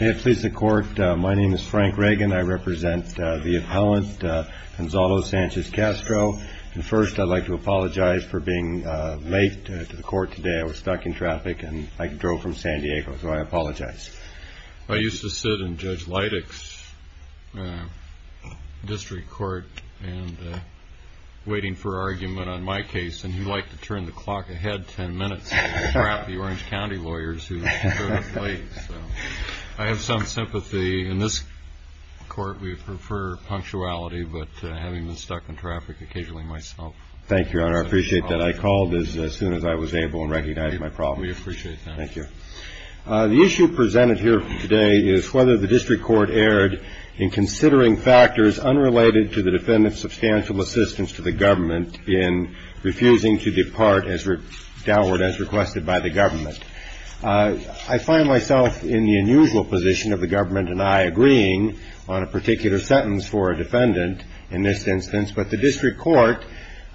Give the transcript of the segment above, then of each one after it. May it please the court, my name is Frank Reagan. I represent the appellant Gonzalo Sanchez-Castro. And first I'd like to apologize for being late to the court today. I was stuck in traffic and I drove from San Diego, so I apologize. I used to sit in Judge Leitich's district court and waiting for argument on my case, and he liked to turn the clock ahead ten minutes and grab the Orange County lawyers who were late. I have some sympathy. In this court we prefer punctuality, but having been stuck in traffic occasionally myself. Thank you, Your Honor. I appreciate that. I called as soon as I was able and recognized my problem. We appreciate that. Thank you. The issue presented here today is whether the district court erred in considering factors unrelated to the defendant's substantial assistance to the government in refusing to depart as requested by the government. I find myself in the unusual position of the government and I agreeing on a particular sentence for a defendant in this instance, but the district court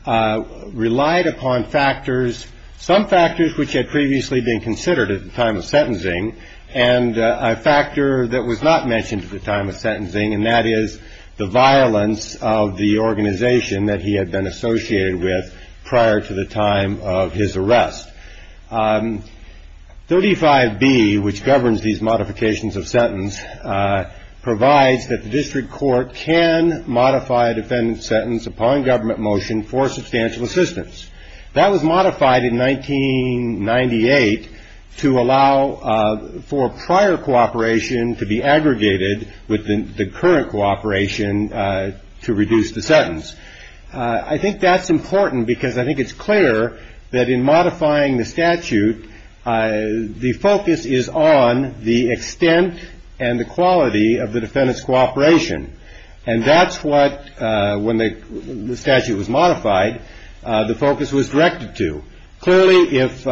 relied upon factors, some factors which had previously been considered at the time of sentencing, and a factor that was not mentioned at the time of sentencing, and that is the violence of the organization that he had been associated with prior to the time of his arrest. 35B, which governs these modifications of sentence, provides that the district court can modify a defendant's sentence upon government motion for substantial assistance. That was modified in 1998 to allow for prior cooperation to be aggregated with the current cooperation to reduce the sentence. I think that's important because I think it's clear that in modifying the statute, the focus is on the extent and the quality of the defendant's cooperation, and that's what, when the statute was modified, the focus was directed to. Clearly, if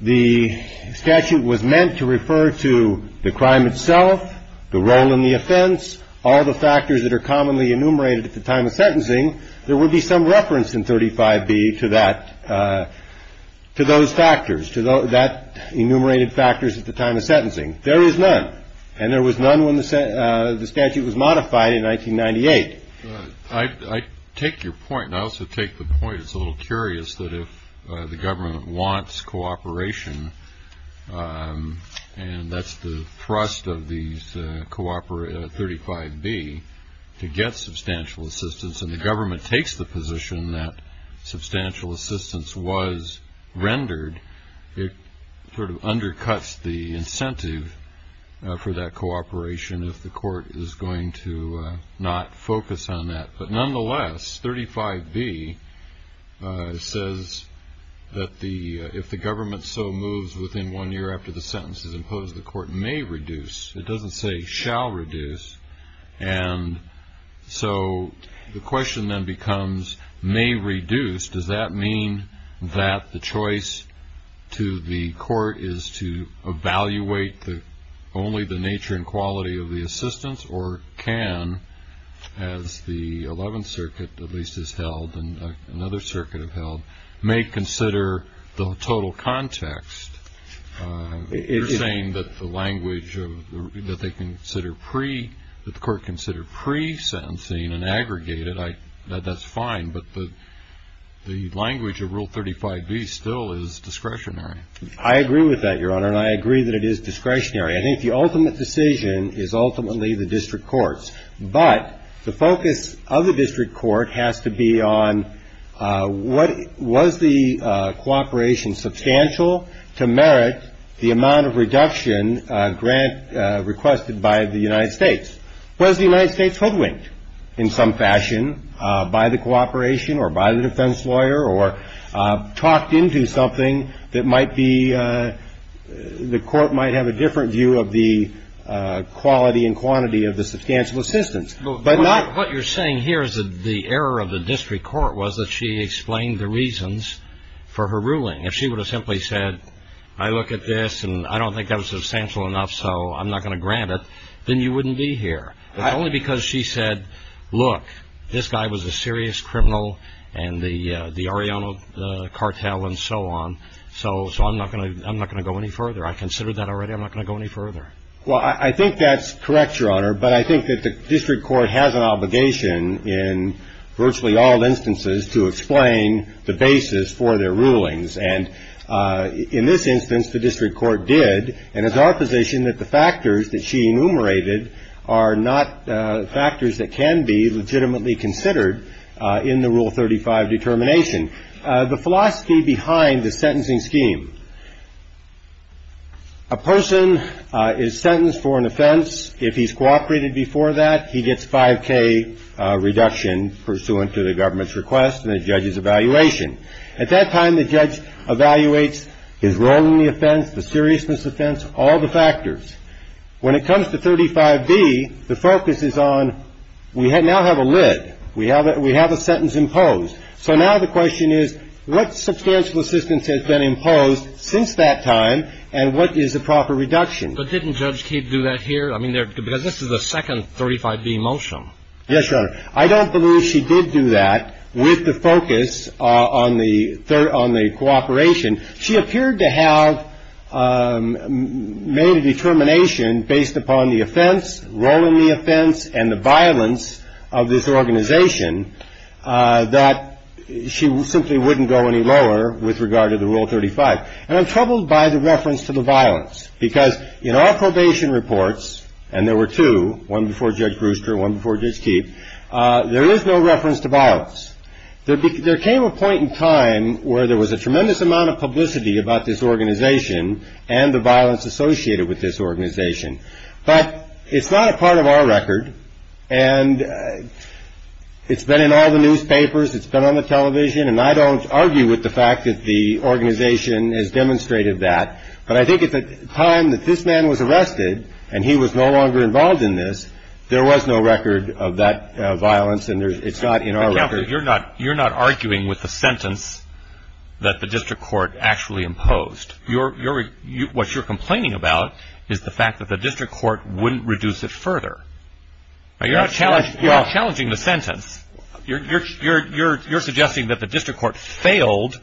the statute was meant to refer to the crime itself, the role in the offense, all the factors that are commonly enumerated at the time of sentencing, there would be some reference in 35B to those factors, to that enumerated factors at the time of sentencing. There is none, and there was none when the statute was modified in 1998. I take your point, and I also take the point. It's a little curious that if the government wants cooperation, and that's the thrust of these 35B, to get substantial assistance, and the government takes the position that substantial assistance was rendered, it sort of undercuts the incentive for that cooperation if the court is going to not focus on that. But nonetheless, 35B says that if the government so moves within one year after the sentence is imposed, the court may reduce. It doesn't say shall reduce. And so the question then becomes, may reduce. Does that mean that the choice to the court is to evaluate only the nature and quality of the assistance, or can, as the Eleventh Circuit at least has held and another circuit have held, may consider the total context? You're saying that the language that they consider pre, that the court consider pre-sentencing and aggregated, that's fine, but the language of Rule 35B still is discretionary. I agree with that, Your Honor, and I agree that it is discretionary. I think the ultimate decision is ultimately the district court's. But the focus of the district court has to be on what, was the cooperation substantial to merit the amount of reduction grant requested by the United States? Was the United States hoodwinked in some fashion by the cooperation or by the defense lawyer or talked into something that might be, the court might have a different view of the quality and quantity of the substantial assistance, but not. What you're saying here is that the error of the district court was that she explained the reasons for her ruling. If she would have simply said, I look at this and I don't think that was substantial enough, so I'm not going to grant it, then you wouldn't be here. Only because she said, look, this guy was a serious criminal and the Oriental cartel and so on, so I'm not going to go any further. I considered that already. I'm not going to go any further. Well, I think that's correct, Your Honor. But I think that the district court has an obligation in virtually all instances to explain the basis for their rulings. And in this instance, the district court did, and it's our position that the factors that she enumerated are not factors that can be legitimately considered in the Rule 35 determination. The philosophy behind the sentencing scheme. A person is sentenced for an offense. If he's cooperated before that, he gets a 5K reduction pursuant to the government's request and the judge's evaluation. At that time, the judge evaluates his role in the offense, the seriousness offense, all the factors. When it comes to 35B, the focus is on we now have a lid. We have a sentence imposed. So now the question is, what substantial assistance has been imposed since that time, and what is the proper reduction? But didn't Judge Kidd do that here? Because this is the second 35B motion. Yes, Your Honor. I don't believe she did do that with the focus on the cooperation. She appeared to have made a determination based upon the offense, role in the offense, and the violence of this organization that she simply wouldn't go any lower with regard to the Rule 35. And I'm troubled by the reference to the violence, because in our probation reports, and there were two, one before Judge Brewster, one before Judge Kidd, there is no reference to violence. There came a point in time where there was a tremendous amount of publicity about this organization and the violence associated with this organization. But it's not a part of our record, and it's been in all the newspapers, it's been on the television, and I don't argue with the fact that the organization has demonstrated that. But I think at the time that this man was arrested, and he was no longer involved in this, there was no record of that violence, and it's not in our record. You're not arguing with the sentence that the district court actually imposed. What you're complaining about is the fact that the district court wouldn't reduce it further. You're not challenging the sentence. You're suggesting that the district court failed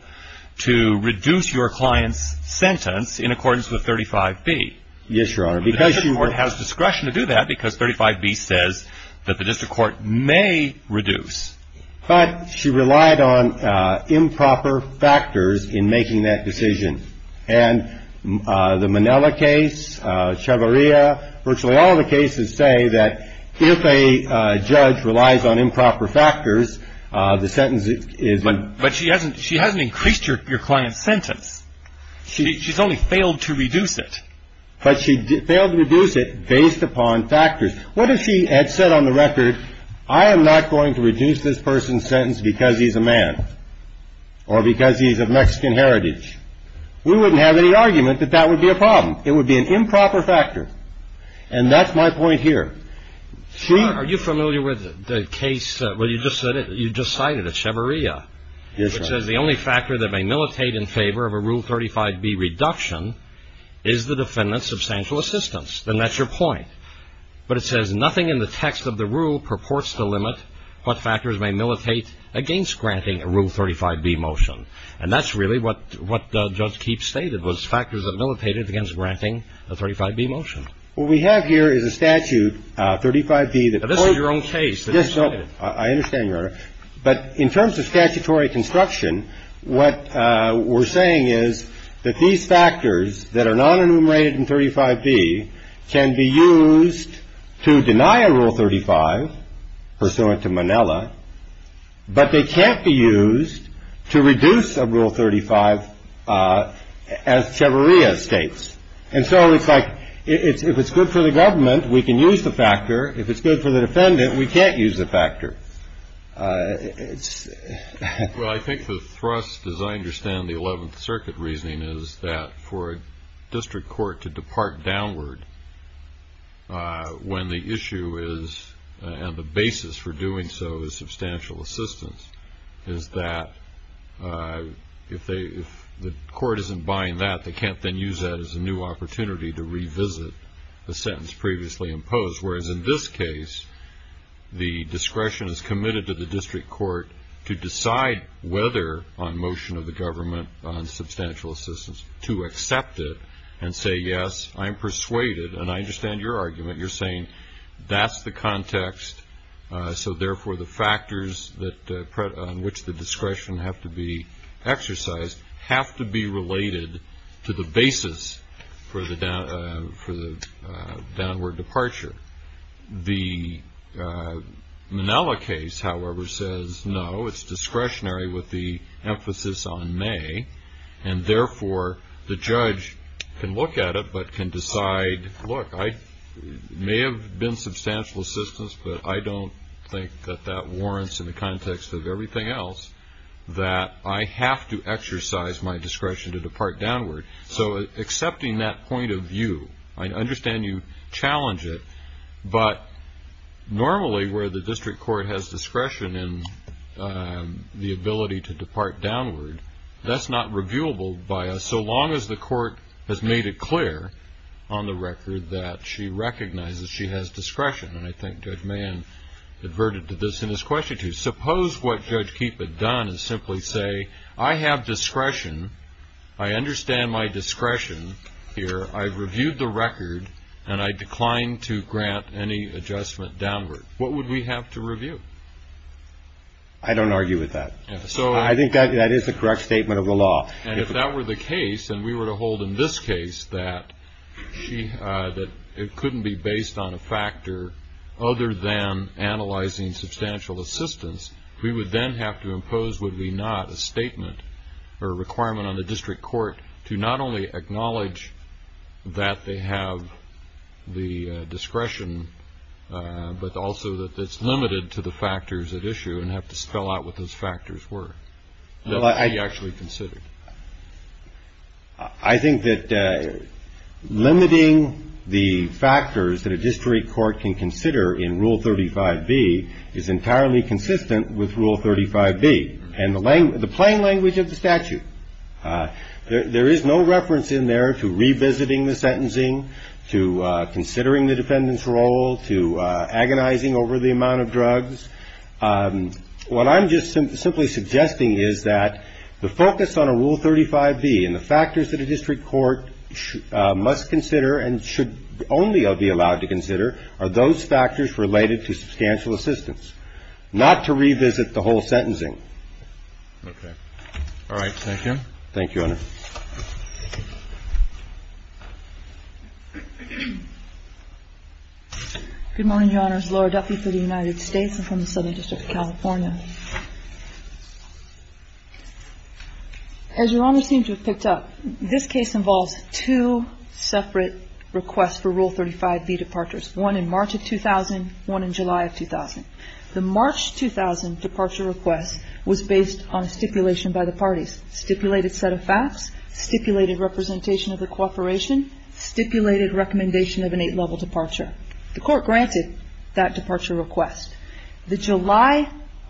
to reduce your client's sentence in accordance with 35B. Yes, Your Honor. The district court has discretion to do that, because 35B says that the district court may reduce. But she relied on improper factors in making that decision. And the Manela case, Chavarria, virtually all the cases say that if a judge relies on improper factors, the sentence is- But she hasn't increased your client's sentence. She's only failed to reduce it. But she failed to reduce it based upon factors. What if she had said on the record, I am not going to reduce this person's sentence because he's a man, or because he's of Mexican heritage? We wouldn't have any argument that that would be a problem. It would be an improper factor. And that's my point here. She- Are you familiar with the case that you just cited at Chavarria? Yes, Your Honor. It says the only factor that may militate in favor of a Rule 35B reduction is the defendant's substantial assistance. Then that's your point. But it says nothing in the text of the rule purports to limit what factors may militate against granting a Rule 35B motion. And that's really what Judge Keefe stated, was factors that militated against granting a 35B motion. What we have here is a statute, 35B- This is your own case that you cited. I understand, Your Honor. But in terms of statutory construction, what we're saying is that these factors that are non-enumerated in 35B can be used to deny a Rule 35, pursuant to Manila, but they can't be used to reduce a Rule 35 as Chavarria states. And so it's like if it's good for the government, we can use the factor. If it's good for the defendant, we can't use the factor. Well, I think the thrust, as I understand the Eleventh Circuit reasoning, is that for a district court to depart downward when the issue is and the basis for doing so is substantial assistance, is that if the court isn't buying that, they can't then use that as a new opportunity to revisit the sentence previously imposed. Whereas in this case, the discretion is committed to the district court to decide whether, on motion of the government, on substantial assistance, to accept it and say, yes, I'm persuaded. And I understand your argument. You're saying that's the context. So, therefore, the factors on which the discretion have to be exercised have to be related to the basis for the downward departure. The Manila case, however, says no. It's discretionary with the emphasis on may, and, therefore, the judge can look at it but can decide, look, I may have been substantial assistance, but I don't think that that warrants in the context of everything else, that I have to exercise my discretion to depart downward. So accepting that point of view, I understand you challenge it, but normally where the district court has discretion in the ability to depart downward, that's not reviewable by us so long as the court has made it clear on the record that she recognizes she has discretion. And I think Judge Mann adverted to this in his question, too. Suppose what Judge Keepe had done is simply say, I have discretion, I understand my discretion here, I've reviewed the record, and I decline to grant any adjustment downward. What would we have to review? I don't argue with that. I think that is the correct statement of the law. And if that were the case and we were to hold in this case that it couldn't be based on a factor other than analyzing substantial assistance, we would then have to impose would be not a statement or a requirement on the district court to not only acknowledge that they have the discretion, but also that it's limited to the factors at issue and have to spell out what those factors were that they actually considered. I think that limiting the factors that a district court can consider in Rule 35B is entirely consistent with Rule 35B. And the plain language of the statute, there is no reference in there to revisiting the sentencing, to considering the defendant's role, to agonizing over the amount of drugs. What I'm just simply suggesting is that the focus on a Rule 35B and the factors that a district court must consider and should only be allowed to consider are those factors related to substantial assistance, not to revisit the whole sentencing. Okay. Thank you. Thank you, Your Honor. Good morning, Your Honors. Laura Duffy for the United States and from the Southern District of California. As Your Honor seems to have picked up, this case involves two separate requests for Rule 35B departures, one in March of 2000, one in July of 2000. The March 2000 departure request was based on a stipulation by the parties. Stipulated set of facts, stipulated representation of the cooperation, stipulated recommendation of an eight-level departure. The court granted that departure request. The July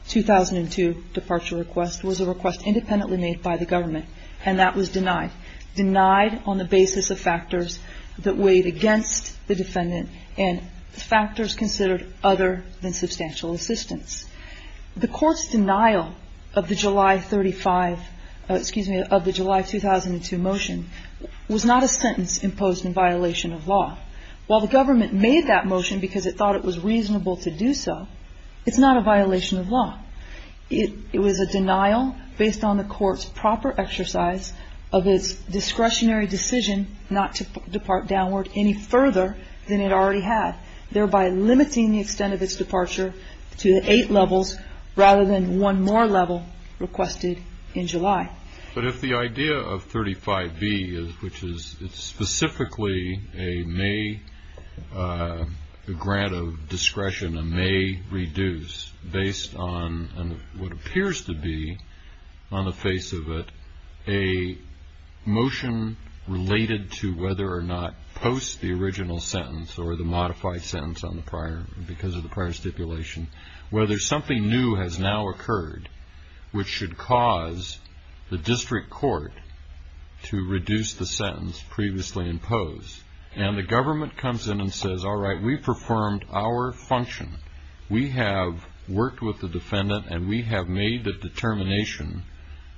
2002 departure request was a request independently made by the government, and that was denied. Denied on the basis of factors that weighed against the defendant and factors considered other than substantial assistance. The court's denial of the July 35, excuse me, of the July 2002 motion was not a sentence imposed in violation of law. While the government made that motion because it thought it was reasonable to do so, it's not a violation of law. It was a denial based on the court's proper exercise of its discretionary decision not to depart downward any further than it already had, thereby limiting the extent of its departure to eight levels rather than one more level requested in July. But if the idea of 35B, which is specifically a grant of discretion and may reduce based on what appears to be on the face of it, a motion related to whether or not post the original sentence or the modified sentence on the prior, because of the prior stipulation, whether something new has now occurred which should cause the district court to reduce the sentence previously imposed. And the government comes in and says, all right, we've performed our function. We have worked with the defendant and we have made the determination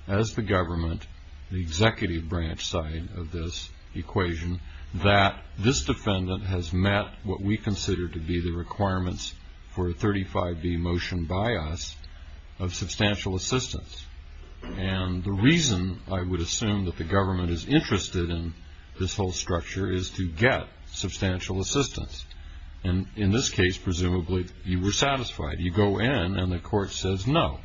as the government, the executive branch side of this equation, that this defendant has met what we consider to be the requirements for a 35B motion by us of substantial assistance. And the reason I would assume that the government is interested in this whole structure is to get substantial assistance. And in this case, presumably you were satisfied. You go in and the court says, no,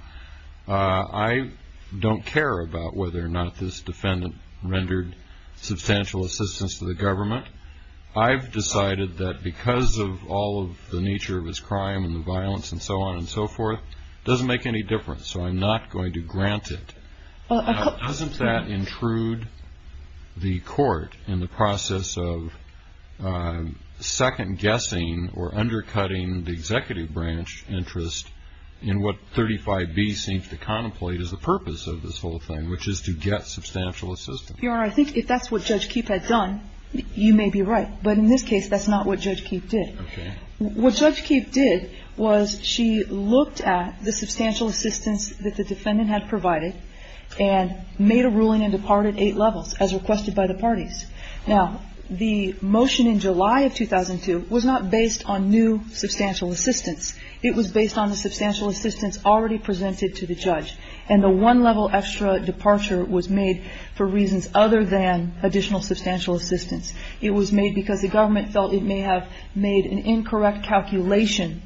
I don't care about whether or not this defendant rendered substantial assistance to the government. I've decided that because of all of the nature of his crime and the violence and so on and so forth doesn't make any difference. So I'm not going to grant it. Doesn't that intrude the court in the process of second guessing or undercutting the executive branch interest in what 35B seems to contemplate as the purpose of this whole thing, which is to get substantial assistance? Your Honor, I think if that's what Judge Keefe had done, you may be right. But in this case, that's not what Judge Keefe did. Okay. What Judge Keefe did was she looked at the substantial assistance that the defendant had provided and made a ruling and departed eight levels as requested by the parties. Now, the motion in July of 2002 was not based on new substantial assistance. It was based on the substantial assistance already presented to the judge. And the one-level extra departure was made for reasons other than additional substantial assistance. It was made because the government felt it may have made an incorrect calculation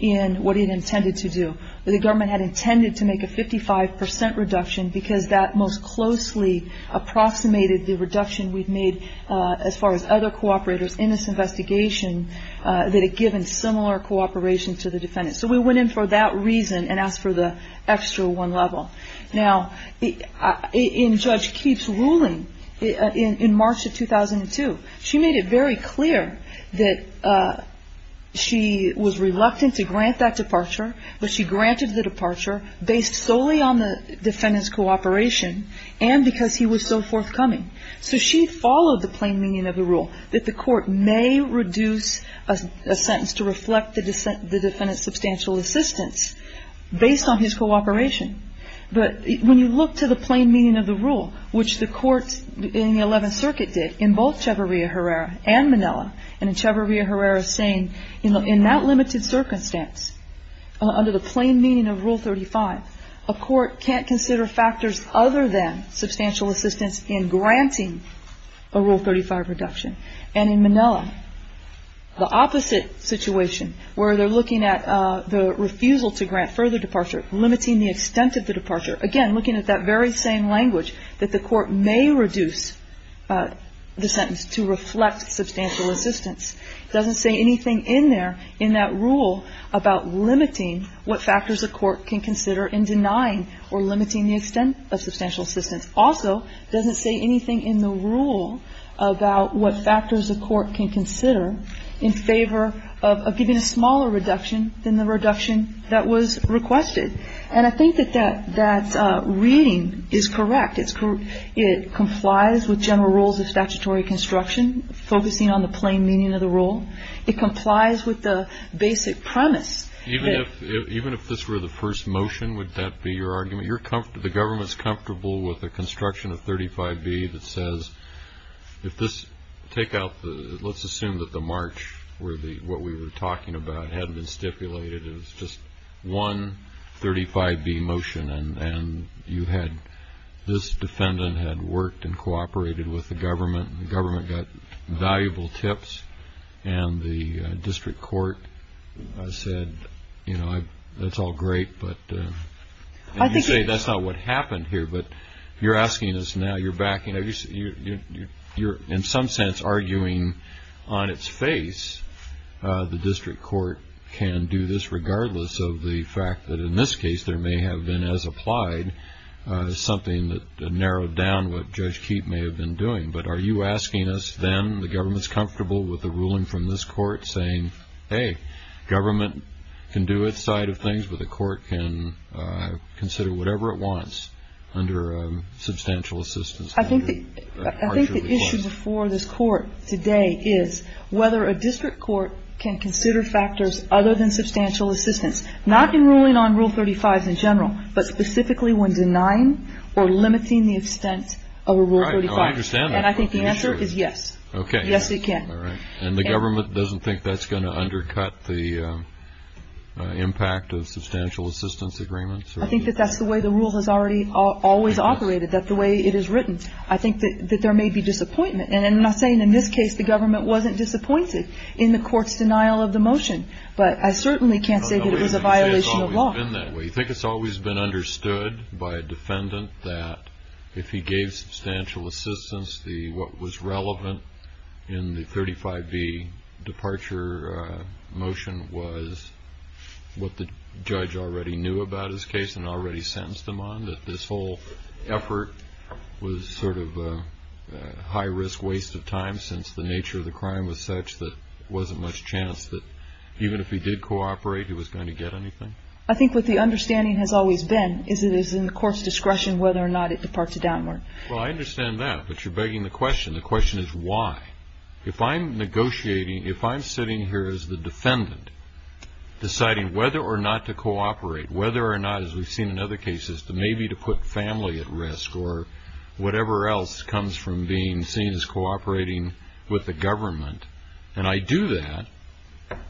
in what it intended to do. The government had intended to make a 55% reduction because that most closely approximated the reduction we've made as far as other cooperators in this investigation that had given similar cooperation to the defendant. So we went in for that reason and asked for the extra one level. Now, in Judge Keefe's ruling in March of 2002, she made it very clear that she was reluctant to grant that departure, but she granted the departure based solely on the defendant's cooperation and because he was so forthcoming. So she followed the plain meaning of the rule, that the court may reduce a sentence to reflect the defendant's substantial assistance based on his cooperation. But when you look to the plain meaning of the rule, which the court in the Eleventh Circuit did in both Chevarria-Herrera and Manila, and in Chevarria-Herrera saying in that limited circumstance, under the plain meaning of Rule 35, a court can't consider factors other than substantial assistance in granting a Rule 35 reduction. And in Manila, the opposite situation, where they're looking at the refusal to grant further departure, limiting the extent of the departure, again, looking at that very same language, that the court may reduce the sentence to reflect substantial assistance, doesn't say anything in there, in that rule about limiting what factors a court can consider in denying or limiting the extent of substantial assistance. Also, doesn't say anything in the rule about what factors a court can consider in favor of giving a smaller reduction than the reduction that was requested. And I think that that reading is correct. It complies with general rules of statutory construction, focusing on the plain meaning of the rule. It complies with the basic premise. Even if this were the first motion, would that be your argument? The government's comfortable with a construction of 35B that says, let's assume that the march, what we were talking about, hadn't been stipulated. It was just one 35B motion, and this defendant had worked and cooperated with the government, and the government got valuable tips, and the district court said, you know, that's all great, but you say that's not what happened here, but you're asking us now, you're in some sense arguing on its face the district court can do this regardless of the fact that, in this case, there may have been, as applied, something that narrowed down what Judge Keefe may have been doing. But are you asking us then, the government's comfortable with the ruling from this court saying, hey, government can do its side of things, but the court can consider whatever it wants under substantial assistance? I think the issue before this court today is whether a district court can consider factors other than substantial assistance, not in ruling on Rule 35 in general, but specifically when denying or limiting the extent of a Rule 35. Oh, I understand that. And I think the answer is yes. Okay. Yes, it can. All right. And the government doesn't think that's going to undercut the impact of substantial assistance agreements? I think that that's the way the rule has already always operated, that the way it is written. I think that there may be disappointment. And I'm not saying in this case the government wasn't disappointed in the court's denial of the motion, but I certainly can't say that it was a violation of law. You think it's always been understood by a defendant that if he gave substantial assistance, what was relevant in the 35B departure motion was what the judge already knew about his case and already sentenced him on, that this whole effort was sort of a high-risk waste of time, since the nature of the crime was such that there wasn't much chance that even if he did cooperate, he was going to get anything? I think what the understanding has always been is it is in the court's discretion whether or not it departs a downward. Well, I understand that, but you're begging the question. The question is why. If I'm negotiating, if I'm sitting here as the defendant deciding whether or not to cooperate, whether or not, as we've seen in other cases, maybe to put family at risk or whatever else comes from being seen as cooperating with the government, and I do that,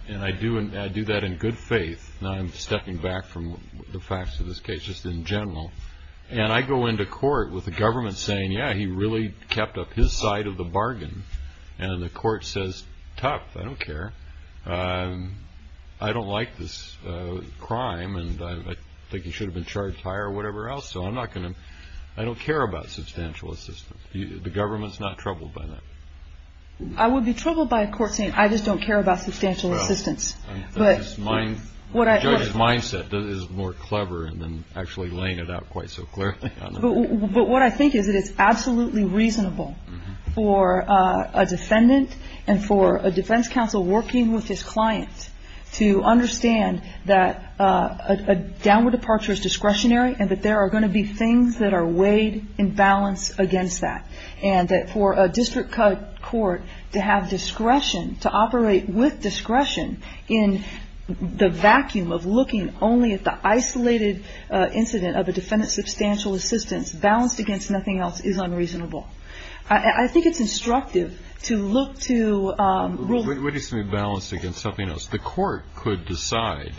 and I do that in good faith. Now, I'm stepping back from the facts of this case just in general. And I go into court with the government saying, yeah, he really kept up his side of the bargain. And the court says, tough, I don't care. I don't like this crime, and I think he should have been charged higher or whatever else, so I don't care about substantial assistance. The government's not troubled by that. I would be troubled by a court saying, I just don't care about substantial assistance. The judge's mindset is more clever than actually laying it out quite so clearly. But what I think is that it's absolutely reasonable for a defendant and for a defense counsel working with his client to understand that a downward departure is discretionary and that there are going to be things that are weighed in balance against that, and that for a district court to have discretion, to operate with discretion, in the vacuum of looking only at the isolated incident of a defendant's substantial assistance, balanced against nothing else, is unreasonable. I think it's instructive to look to rule. What do you mean balanced against something else? The court could decide.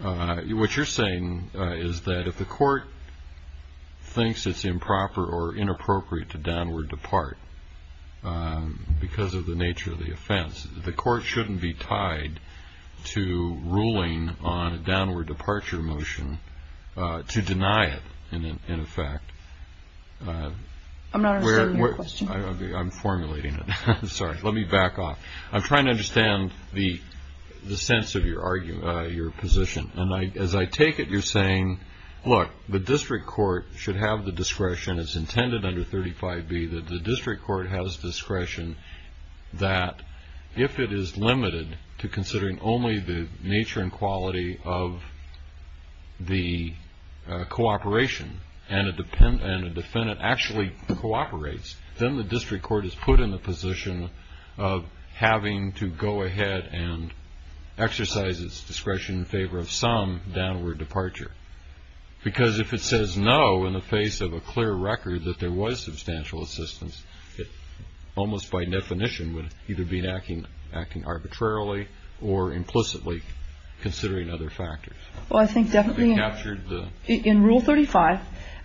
What you're saying is that if the court thinks it's improper or inappropriate to downward depart because of the nature of the offense, the court shouldn't be tied to ruling on a downward departure motion to deny it, in effect. I'm not understanding your question. I'm formulating it. Sorry. Let me back off. I'm trying to understand the sense of your position. As I take it, you're saying, look, the district court should have the discretion. It's intended under 35B that the district court has discretion that, if it is limited to considering only the nature and quality of the cooperation and a defendant actually cooperates, then the district court is put in the position of having to go ahead and exercise its discretion in favor of some downward departure. Because if it says no in the face of a clear record that there was substantial assistance, it almost by definition would either be acting arbitrarily or implicitly considering other factors. Well, I think definitely in Rule 35,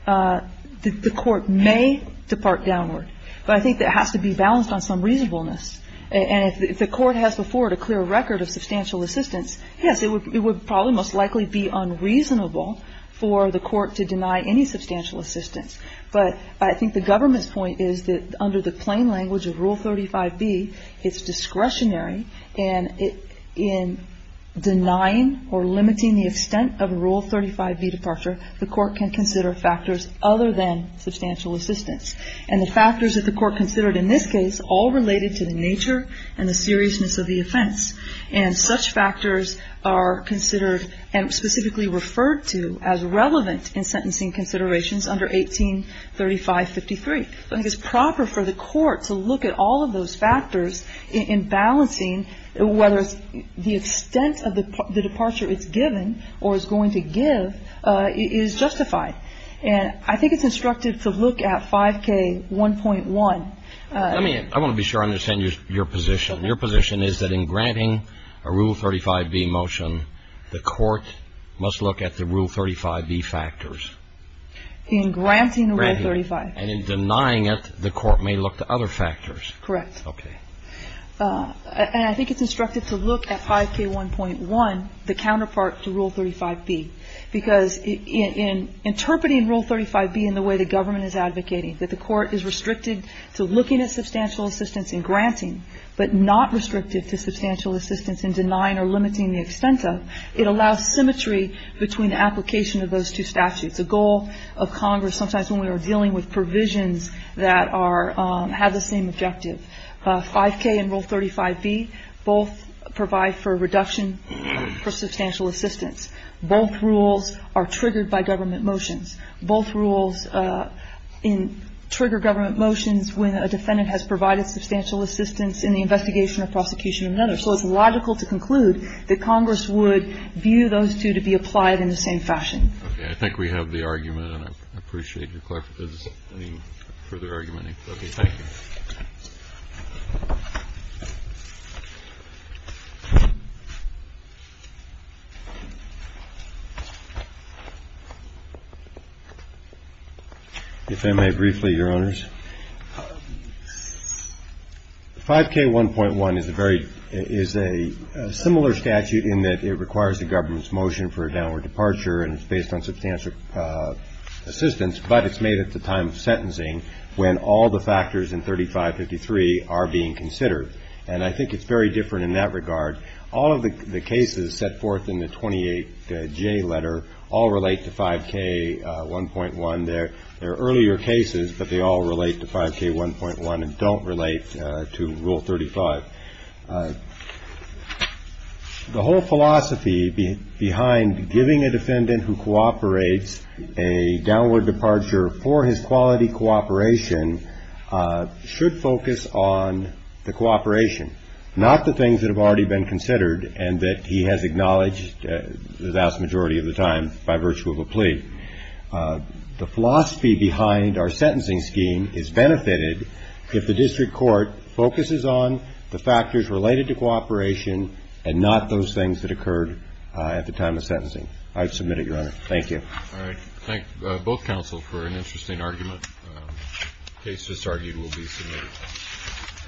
the court may depart downward. But I think that has to be balanced on some reasonableness. And if the court has before it a clear record of substantial assistance, yes, it would probably most likely be unreasonable for the court to deny any substantial assistance. But I think the government's point is that under the plain language of Rule 35B, it's discretionary, and in denying or limiting the extent of Rule 35B departure, the court can consider factors other than substantial assistance. And the factors that the court considered in this case all related to the nature and the seriousness of the offense. And such factors are considered and specifically referred to as relevant in sentencing considerations under 183553. So I think it's proper for the court to look at all of those factors in balancing whether the extent of the departure it's given or is going to give is justified. And I think it's instructive to look at 5K1.1. I mean, I want to be sure I understand your position. Your position is that in granting a Rule 35B motion, the court must look at the Rule 35B factors. In granting Rule 35. And in denying it, the court may look to other factors. Correct. Okay. And I think it's instructive to look at 5K1.1, the counterpart to Rule 35B, because in interpreting Rule 35B in the way the government is advocating, that the court is restricted to looking at substantial assistance in granting, but not restricted to substantial assistance in denying or limiting the extent of, it allows symmetry between the application of those two statutes. It's a goal of Congress sometimes when we are dealing with provisions that are, have the same objective. 5K and Rule 35B both provide for reduction for substantial assistance. Both rules are triggered by government motions. Both rules trigger government motions when a defendant has provided substantial assistance in the investigation or prosecution of another. So it's logical to conclude that Congress would view those two to be applied in the same fashion. Okay. I think we have the argument, and I appreciate your clarification. Any further argument? Okay. Thank you. If I may briefly, Your Honors. 5K1.1 is a very, is a similar statute in that it requires a government's motion for a downward departure, and it's based on substantial assistance, but it's made at the time of sentencing when all the factors in 3553 are being considered. And I think it's very different in that regard. All of the cases set forth in the 28J letter all relate to 5K1.1. There are earlier cases, but they all relate to 5K1.1 and don't relate to Rule 35. The whole philosophy behind giving a defendant who cooperates a downward departure for his quality cooperation should focus on the cooperation, not the things that have already been considered and that he has acknowledged the vast majority of the time by virtue of a plea. The philosophy behind our sentencing scheme is benefited if the district court focuses on the factors related to cooperation and not those things that occurred at the time of sentencing. I submit it, Your Honor. Thank you. All right. Thank both counsel for an interesting argument. The case that's argued will be submitted.